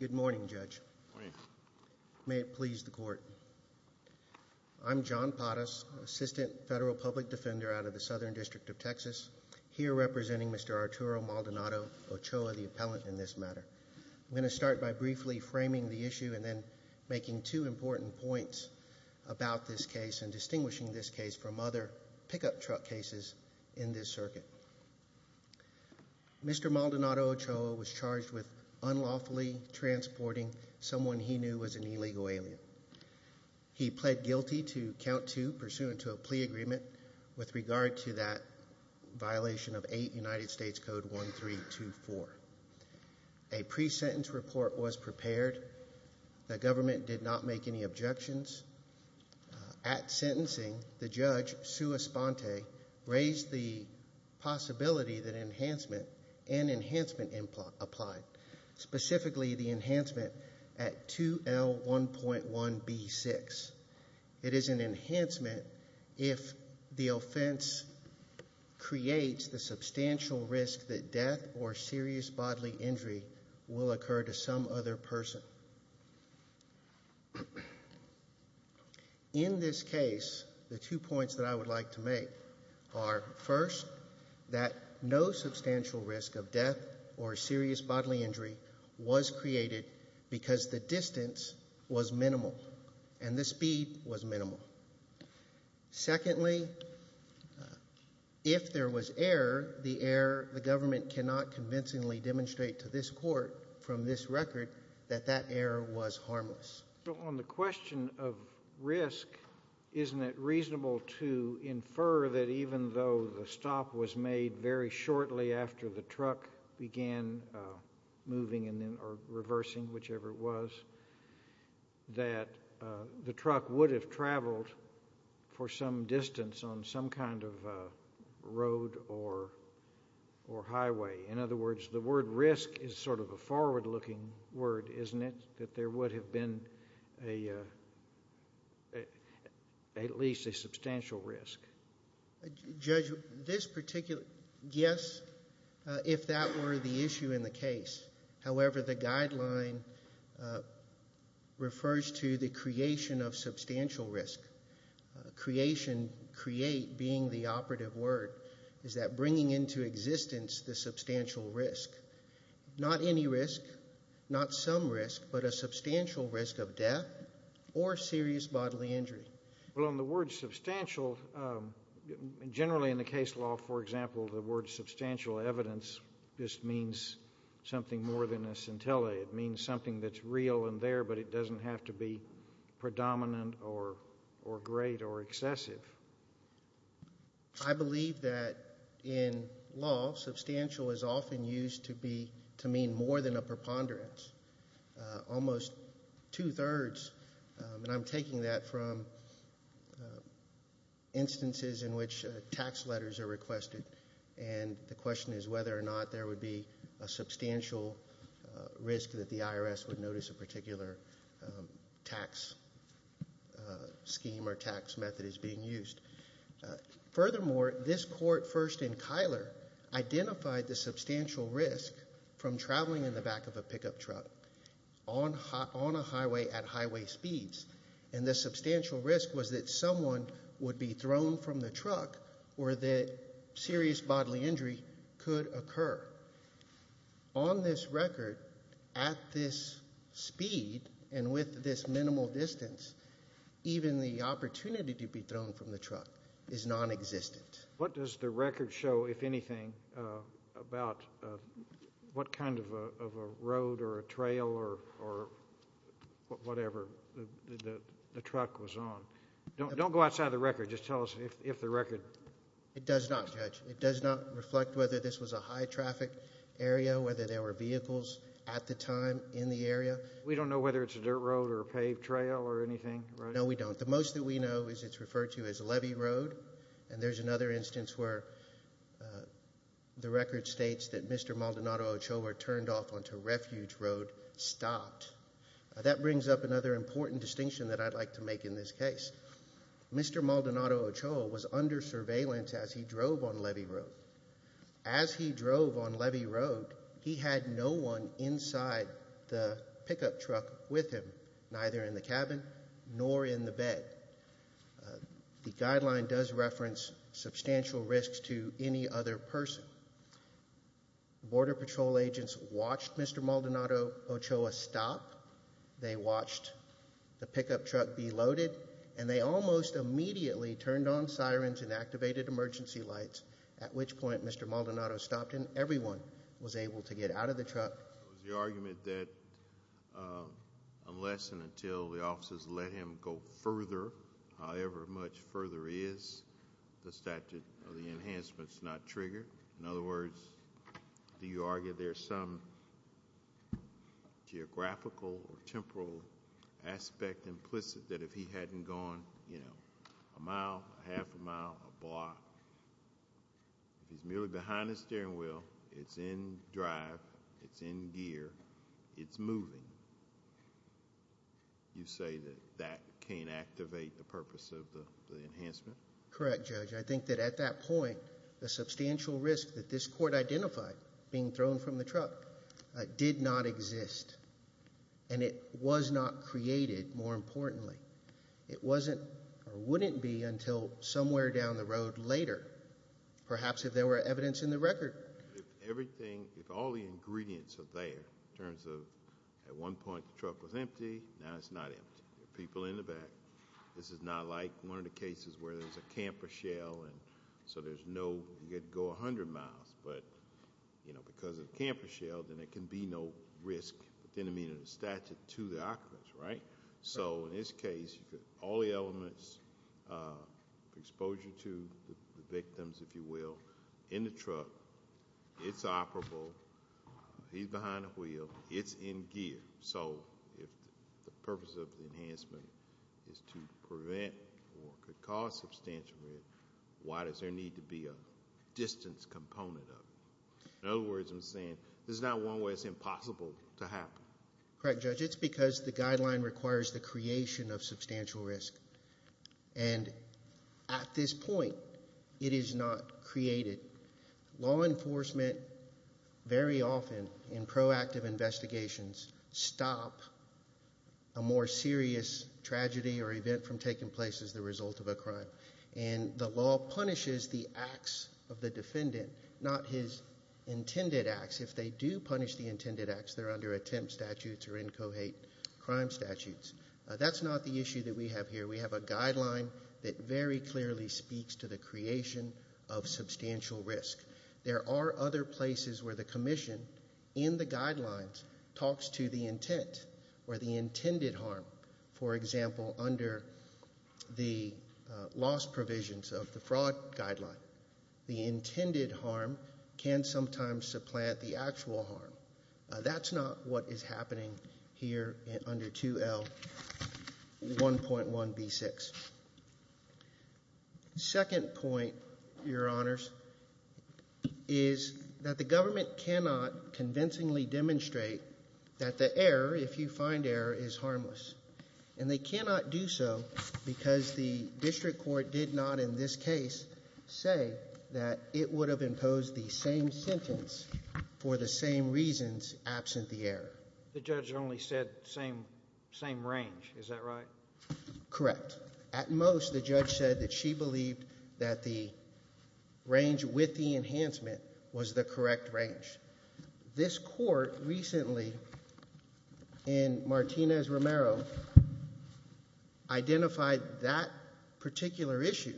Good morning, Judge. May it please the Court. I'm John Pottas, Assistant Federal Public Defender out of the Southern District of Texas, here representing Mr. Arturo Maldonado-Ochoa, the appellant in this matter. I'm going to start by briefly framing the issue and then making two important points about this case and distinguishing this case from other pickup truck cases in this circuit. Mr. Maldonado-Ochoa was charged with unlawfully transporting someone he knew was an illegal alien. He pled guilty to count two pursuant to a plea agreement with regard to that violation of 8 United States Code 1324. A pre-sentence report was the possibility that enhancement and enhancement applied, specifically the enhancement at 2L1.1B6. It is an enhancement if the offense creates the substantial risk that death or serious bodily injury will occur to some other person. In this case, the two points that I would like to make are, first, that no substantial risk of death or serious bodily injury was created because the distance was minimal and the speed was minimal. Secondly, if there was error, the error the government cannot convincingly demonstrate to this Court from On the question of risk, isn't it reasonable to infer that even though the stop was made very shortly after the truck began moving or reversing, whichever it was, that the truck would have traveled for some distance on some kind of road or highway? In other words, the truck would have been at least a substantial risk. Judge, yes, if that were the issue in the case. However, the guideline refers to the creation of substantial risk. Creation, create being the operative word, is that bringing into existence the substantial risk. Not any risk, not some risk, but a substantial risk of death or serious bodily injury. Well, on the word substantial, generally in the case law, for example, the word substantial evidence just means something more than a scintilla. It means something that's real and there, but it doesn't have to be predominant or great or excessive. I believe that in law, substantial is often used to mean more than a preponderance. Almost two-thirds, and I'm taking that from instances in which tax letters are requested and the question is whether or not there would be a substantial risk that the IRS would notice a particular tax scheme or tax method is being used. Furthermore, this court first in Kyler identified the substantial risk from traveling in the car on a highway at highway speeds, and the substantial risk was that someone would be thrown from the truck or that serious bodily injury could occur. On this record, at this speed and with this minimal distance, even the opportunity to be thrown from the truck is nonexistent. What does the record show, if anything, about what kind of a road or a trail or whatever the truck was on? Don't go outside the record. Just tell us if the record. It does not, Judge. It does not reflect whether this was a high-traffic area, whether there were vehicles at the time in the area. We don't know whether it's a dirt road or a paved trail or anything, right? No, we don't. The most that we know is it's referred to as a levee road, and there's another instance where the record states that Mr. Maldonado Ochoa turned off onto Refuge Road stopped. That brings up another important distinction that I'd like to make in this case. Mr. Maldonado Ochoa was under surveillance as he drove on levee road. As he drove on The guideline does reference substantial risks to any other person. Border Patrol agents watched Mr. Maldonado Ochoa stop. They watched the pickup truck be loaded, and they almost immediately turned on sirens and activated emergency lights, at which point Mr. Maldonado stopped and everyone was able to get out of the truck. It was the argument that unless and until the officers let him go further, however much further is, the statute of the enhancements is not triggered. In other words, do you argue there's some geographical or temporal aspect implicit that if he hadn't gone a mile, a mile, in gear, it's moving? You say that that can't activate the purpose of the enhancement? Correct, Judge. I think that at that point, the substantial risk that this court identified being thrown from the truck did not exist, and it was not created, more importantly. It wasn't or wouldn't be until somewhere down the road later, perhaps if there were evidence in the record. If all the ingredients are there, in terms of at one point the truck was empty, now it's not empty. There are people in the back. This is not like one of the cases where there's a camper shell, and so there's no... you could go a hundred miles, but because of the camper shell, then there can be no risk within the statute to the occupants. In this case, all the elements, exposure to the victims, if you will, in the truck, it's operable. He's behind a wheel. It's in gear. If the purpose of the enhancement is to prevent or could cause substantial risk, why does there need to be a distance component of it? In other words, I'm saying there's not one way it's impossible to happen. Correct, Judge. It's because the guideline requires the creation of substantial risk, and at this point, it is not created. Law enforcement very often, in proactive investigations, stop a more serious tragedy or event from taking place as the result of a crime, and the law punishes the acts of the defendant, not his intended acts. If they do punish the crime statutes, that's not the issue that we have here. We have a guideline that very clearly speaks to the creation of substantial risk. There are other places where the commission in the guidelines talks to the intent or the intended harm. For example, under the loss provisions of the fraud guideline, the intended harm can sometimes supplant the actual harm. That's not what is happening here under 2L1.1b6. The second point, Your Honors, is that the government cannot convincingly demonstrate that the error, if you find error, is harmless, and they cannot do so because the district court did not, in this case, say that it would have imposed the same sentence for the same reasons absent the error. The judge only said same range, is that right? Correct. At most, the judge said that she believed that the range with the enhancement was the correct range. This court recently, in Martinez-Romero, identified that particular issue,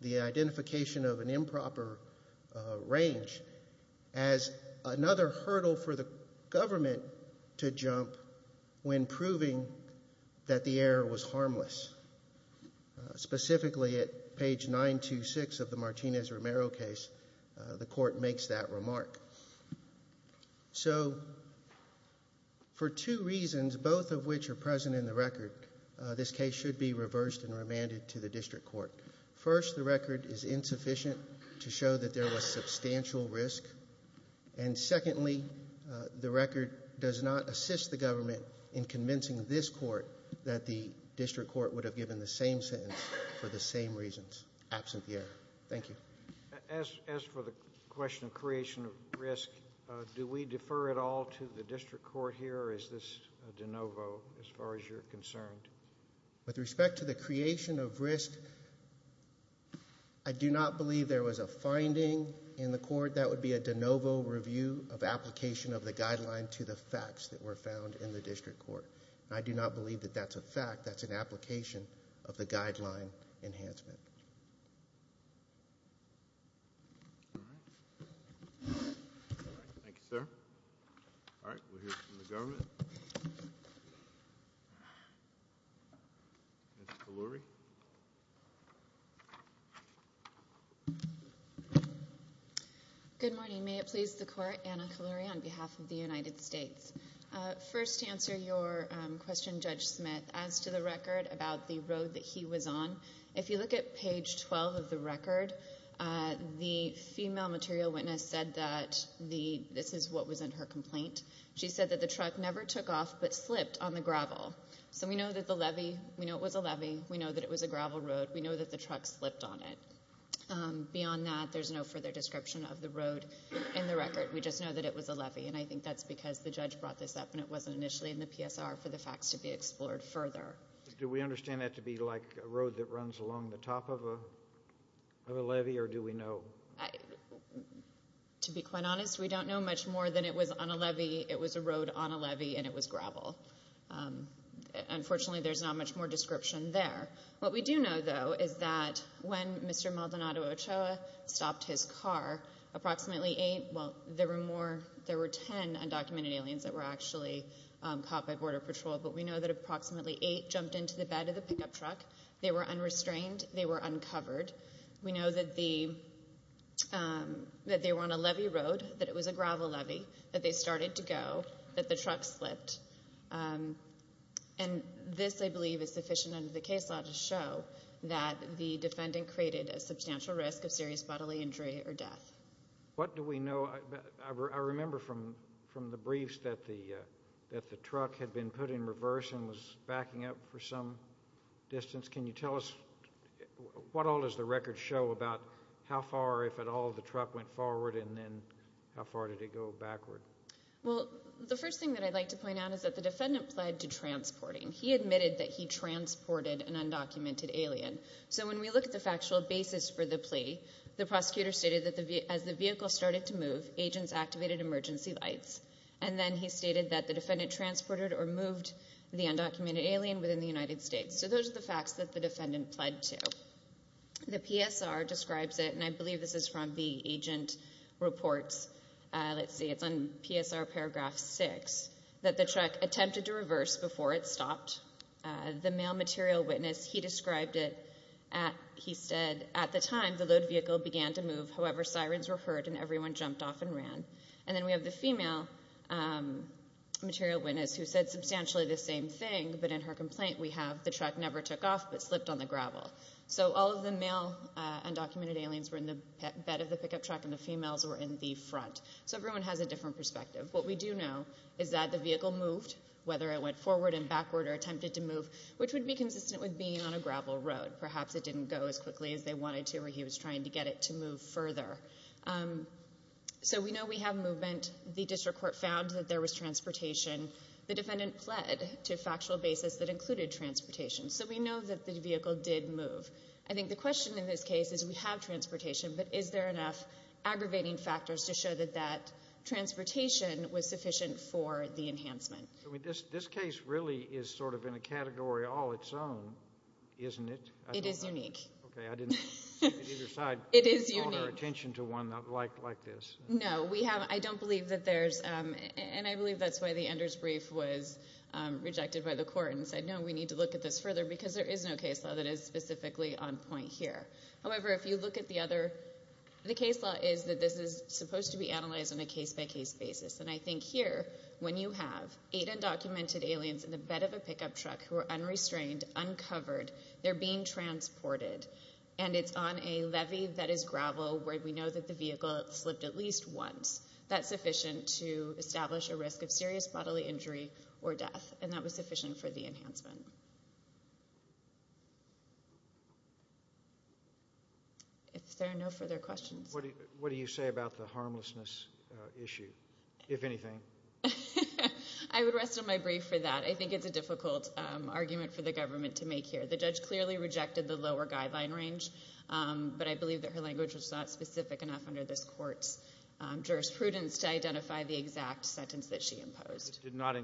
the identification of an improper range, as another hurdle for the government to jump when proving that the error was harmless. Specifically, at page 926 of the Martinez-Romero case, the court makes that remark. For two reasons, both of which are present in the record. First, the record is insufficient to show that there was substantial risk. Secondly, the record does not assist the government in convincing this court that the district court would have given the same sentence for the same reasons absent the error. Thank you. As for the question of creation of risk, do we defer at all to the district court here, or is this de novo as far as you're concerned? With respect to the creation of risk, I do not believe there was a finding in the court that would be a de novo review of application of the guideline to the facts that were found in the district court. I do not believe that that's a fact, that's an application of the guideline enhancement. All right. Thank you, sir. All right, we'll hear from the government. Ms. Kalluri? Good morning. May it please the court, Anna Kalluri on behalf of the United States. First to answer your question, Judge Smith, as to the record about the road that he was on, if you look at page 12 of the record, the female material witness said that this is what was in her complaint. She said that the truck never took off but slipped on the gravel. So we know that the levee, we know it was a levee, we know that it was a gravel road, we know that the truck slipped on it. Beyond that, there's no further description of the road in the record. We just know that it was a levee, and I think that's because the judge brought this up and it wasn't initially in the PSR for the facts to be explored further. Do we understand that to be like a road that runs along the top of a levee, or do we know? To be quite honest, we don't know much more than it was on a levee, it was a road on a levee. Unfortunately, there's not much more description there. What we do know, though, is that when Mr. Maldonado Ochoa stopped his car, approximately eight, well, there were ten undocumented aliens that were actually caught by Border Patrol, but we know that approximately eight jumped into the bed of the pickup truck. They were unrestrained, they were uncovered. We know that they were on a levee road, that it was a gravel levee, that they started to go, that the truck slipped. This, I believe, is sufficient under the case law to show that the defendant created a substantial risk of serious bodily injury or death. What do we know? I remember from the briefs that the truck had been put in reverse and was backing up for some distance. Can you tell us, what all does the record show about how far, if at all, the truck went forward and then how far did it go backward? Well, the first thing that I'd like to point out is that the defendant pled to transporting. He admitted that he transported an undocumented alien. So when we look at the factual basis for the plea, the prosecutor stated that as the vehicle started to move, agents activated emergency lights. And then he stated that the defendant transported or moved the undocumented alien within the United States. So those are the facts that the defendant pled to. The PSR describes it, and I believe this is from the agent reports, let's see, it's on PSR paragraph 6, that the truck attempted to reverse before it stopped. The male material witness, he described it, he said, at the time, the load vehicle began to move, however sirens were heard and everyone jumped off and ran. And then we have the female material witness who said substantially the same thing, but in her complaint we have, the truck never took off but slipped on the gravel. So all of the male undocumented aliens were in the bed of the pickup truck and the females were in the front. So everyone has a different perspective. What we do know is that the vehicle moved, whether it went forward and backward or attempted to move, which would be consistent with being on a gravel road. Perhaps it didn't go as quickly as they wanted to or he was trying to get it to move further. So we know we have movement. The district court found that there was transportation. The defendant pled to include transportation. So we know that the vehicle did move. I think the question in this case is we have transportation, but is there enough aggravating factors to show that that transportation was sufficient for the enhancement. This case really is sort of in a category all its own, isn't it? It is unique. Okay, I didn't see it either side. It is unique. I don't have attention to one like this. No, we have, I don't believe that there's, and I believe that's why the Enders brief was rejected by the court and said, no, we need to look at this further because there is no case law that is specifically on point here. However, if you look at the other, the case law is that this is supposed to be analyzed on a case-by-case basis. And I think here, when you have eight undocumented aliens in the bed of a pickup truck who are unrestrained, uncovered, they're being transported, and it's on a levy that is gravel where we know that the vehicle slipped at least once, that's sufficient to establish a risk of serious bodily injury or death, and that was sufficient for the enhancement. If there are no further questions. What do you say about the harmlessness issue, if anything? I would rest on my brief for that. I think it's a difficult argument for the government to make here. The judge clearly rejected the lower guideline range, but I believe that her language was not specific enough under this court's jurisprudence to identify the sentence. She did not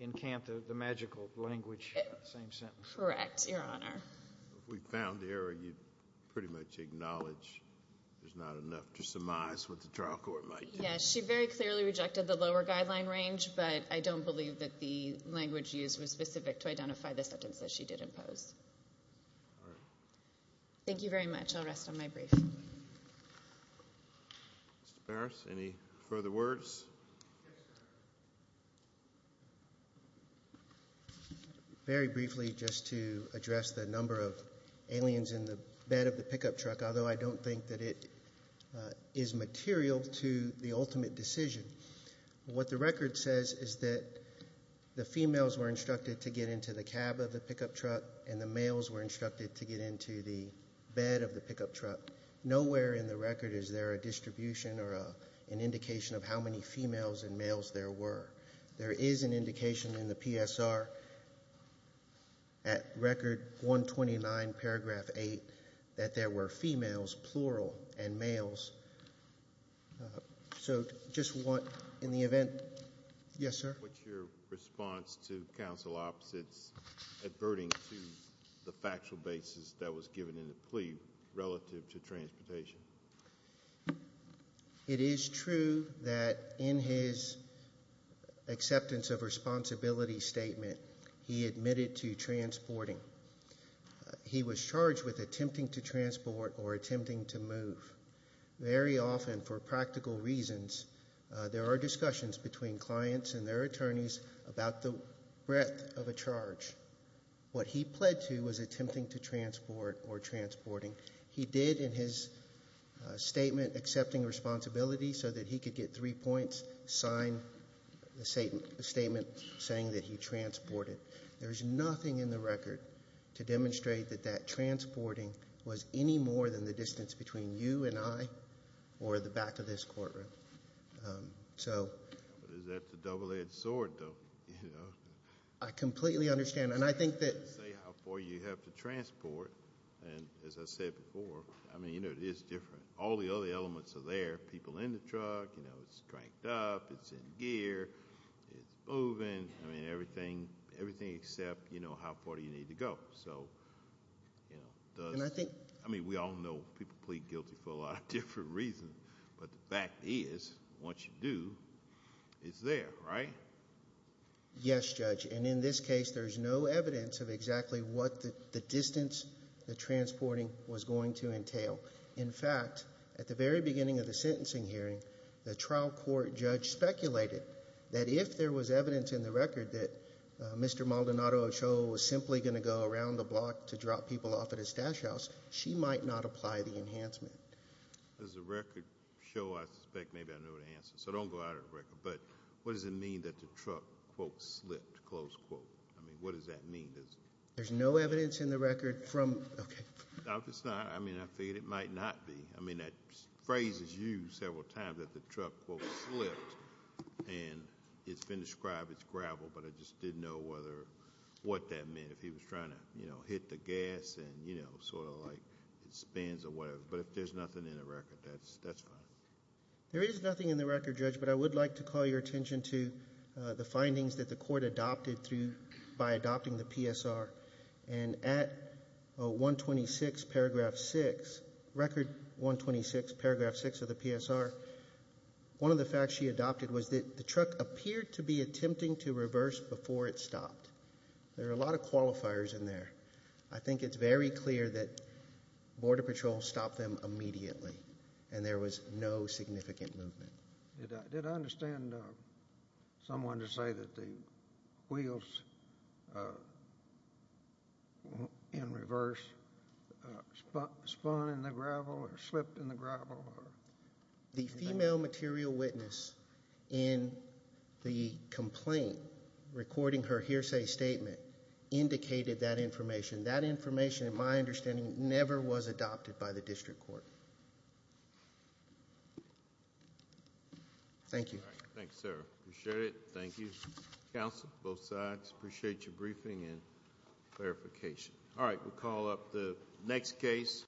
encamp the magical language of the same sentence. Correct, Your Honor. If we found the error, you'd pretty much acknowledge there's not enough to surmise what the trial court might do. Yeah, she very clearly rejected the lower guideline range, but I don't believe that the language used was specific to identify the sentence that she did impose. All right. Thank you very much. I'll rest on my brief. Mr. Barras, any further words? Very briefly, just to address the number of aliens in the bed of the pickup truck, although I don't think that it is material to the ultimate decision. What the record says is that the females were instructed to get into the cab of the pickup truck. Nowhere in the record is there a distribution or an indication of how many females and males there were. There is an indication in the PSR at Record 129, paragraph 8, that there were females, plural, and males. So, just want, in the event... Yes, sir? What's your response to counsel opposites adverting to the factual basis that was given in the plea relative to transportation? It is true that in his acceptance of responsibility statement, he admitted to transporting. He was charged with attempting to transport or attempting to move. Very often, for practical reasons, there are discussions between clients and their attorneys about the breadth of a charge. What he pled to was attempting to transport or transporting. He did, in his statement accepting responsibility so that he could get three points, sign the statement saying that he transported. There's nothing in the record to demonstrate that that transporting was any more than the distance between you and I or the back of this courtroom. So... Is that the double-edged sword, though? I completely understand. Say how far you have to transport. As I said before, it is different. All the other elements are there. People in the truck. It's cranked up. It's in gear. It's moving. Everything except how far you need to go. We all know people plead guilty for a lot of different reasons. But the fact is, once you do, it's there, right? Yes, Judge. And in this case, there's no evidence of exactly what the distance the transporting was going to entail. In fact, at the very beginning of the sentencing hearing, the trial court judge speculated that if there was evidence in the record that Mr. Maldonado Ochoa was simply going to go around the block to drop people off at his stash house, she might not apply the enhancement. As the record shows, I suspect maybe I know the answer. So don't go out of the record. But what does it mean that the truck, quote, slipped, close quote? I mean, what does that mean? There's no evidence in the record from... I figured it might not be. I mean, that phrase is used several times, that the truck, quote, slipped. And it's been described as gravel. But I just didn't know what that meant. If he was trying to hit the gas and, you know, sort of like it spins or whatever. But if there's nothing in the record, that's fine. There is nothing in the record, Judge. But I would like to call your attention to the findings that the court adopted by adopting the PSR. And at 126, paragraph 6, record 126, paragraph 6 of the PSR, one of the facts she adopted was that the truck appeared to be attempting to reverse before it stopped. There are a lot of qualifiers in there. I think it's very clear that Border Patrol stopped them immediately. And there was no significant movement. Did I understand someone to say that the wheels in reverse spun in the gravel or slipped in the gravel? The female material witness in the complaint recording her hearsay statement indicated that information. That information, in my understanding, never was adopted by the district court. Thank you. Thanks, sir. Appreciate it. Thank you, counsel, both sides. Appreciate your briefing and clarification. All right, we'll call up the next case.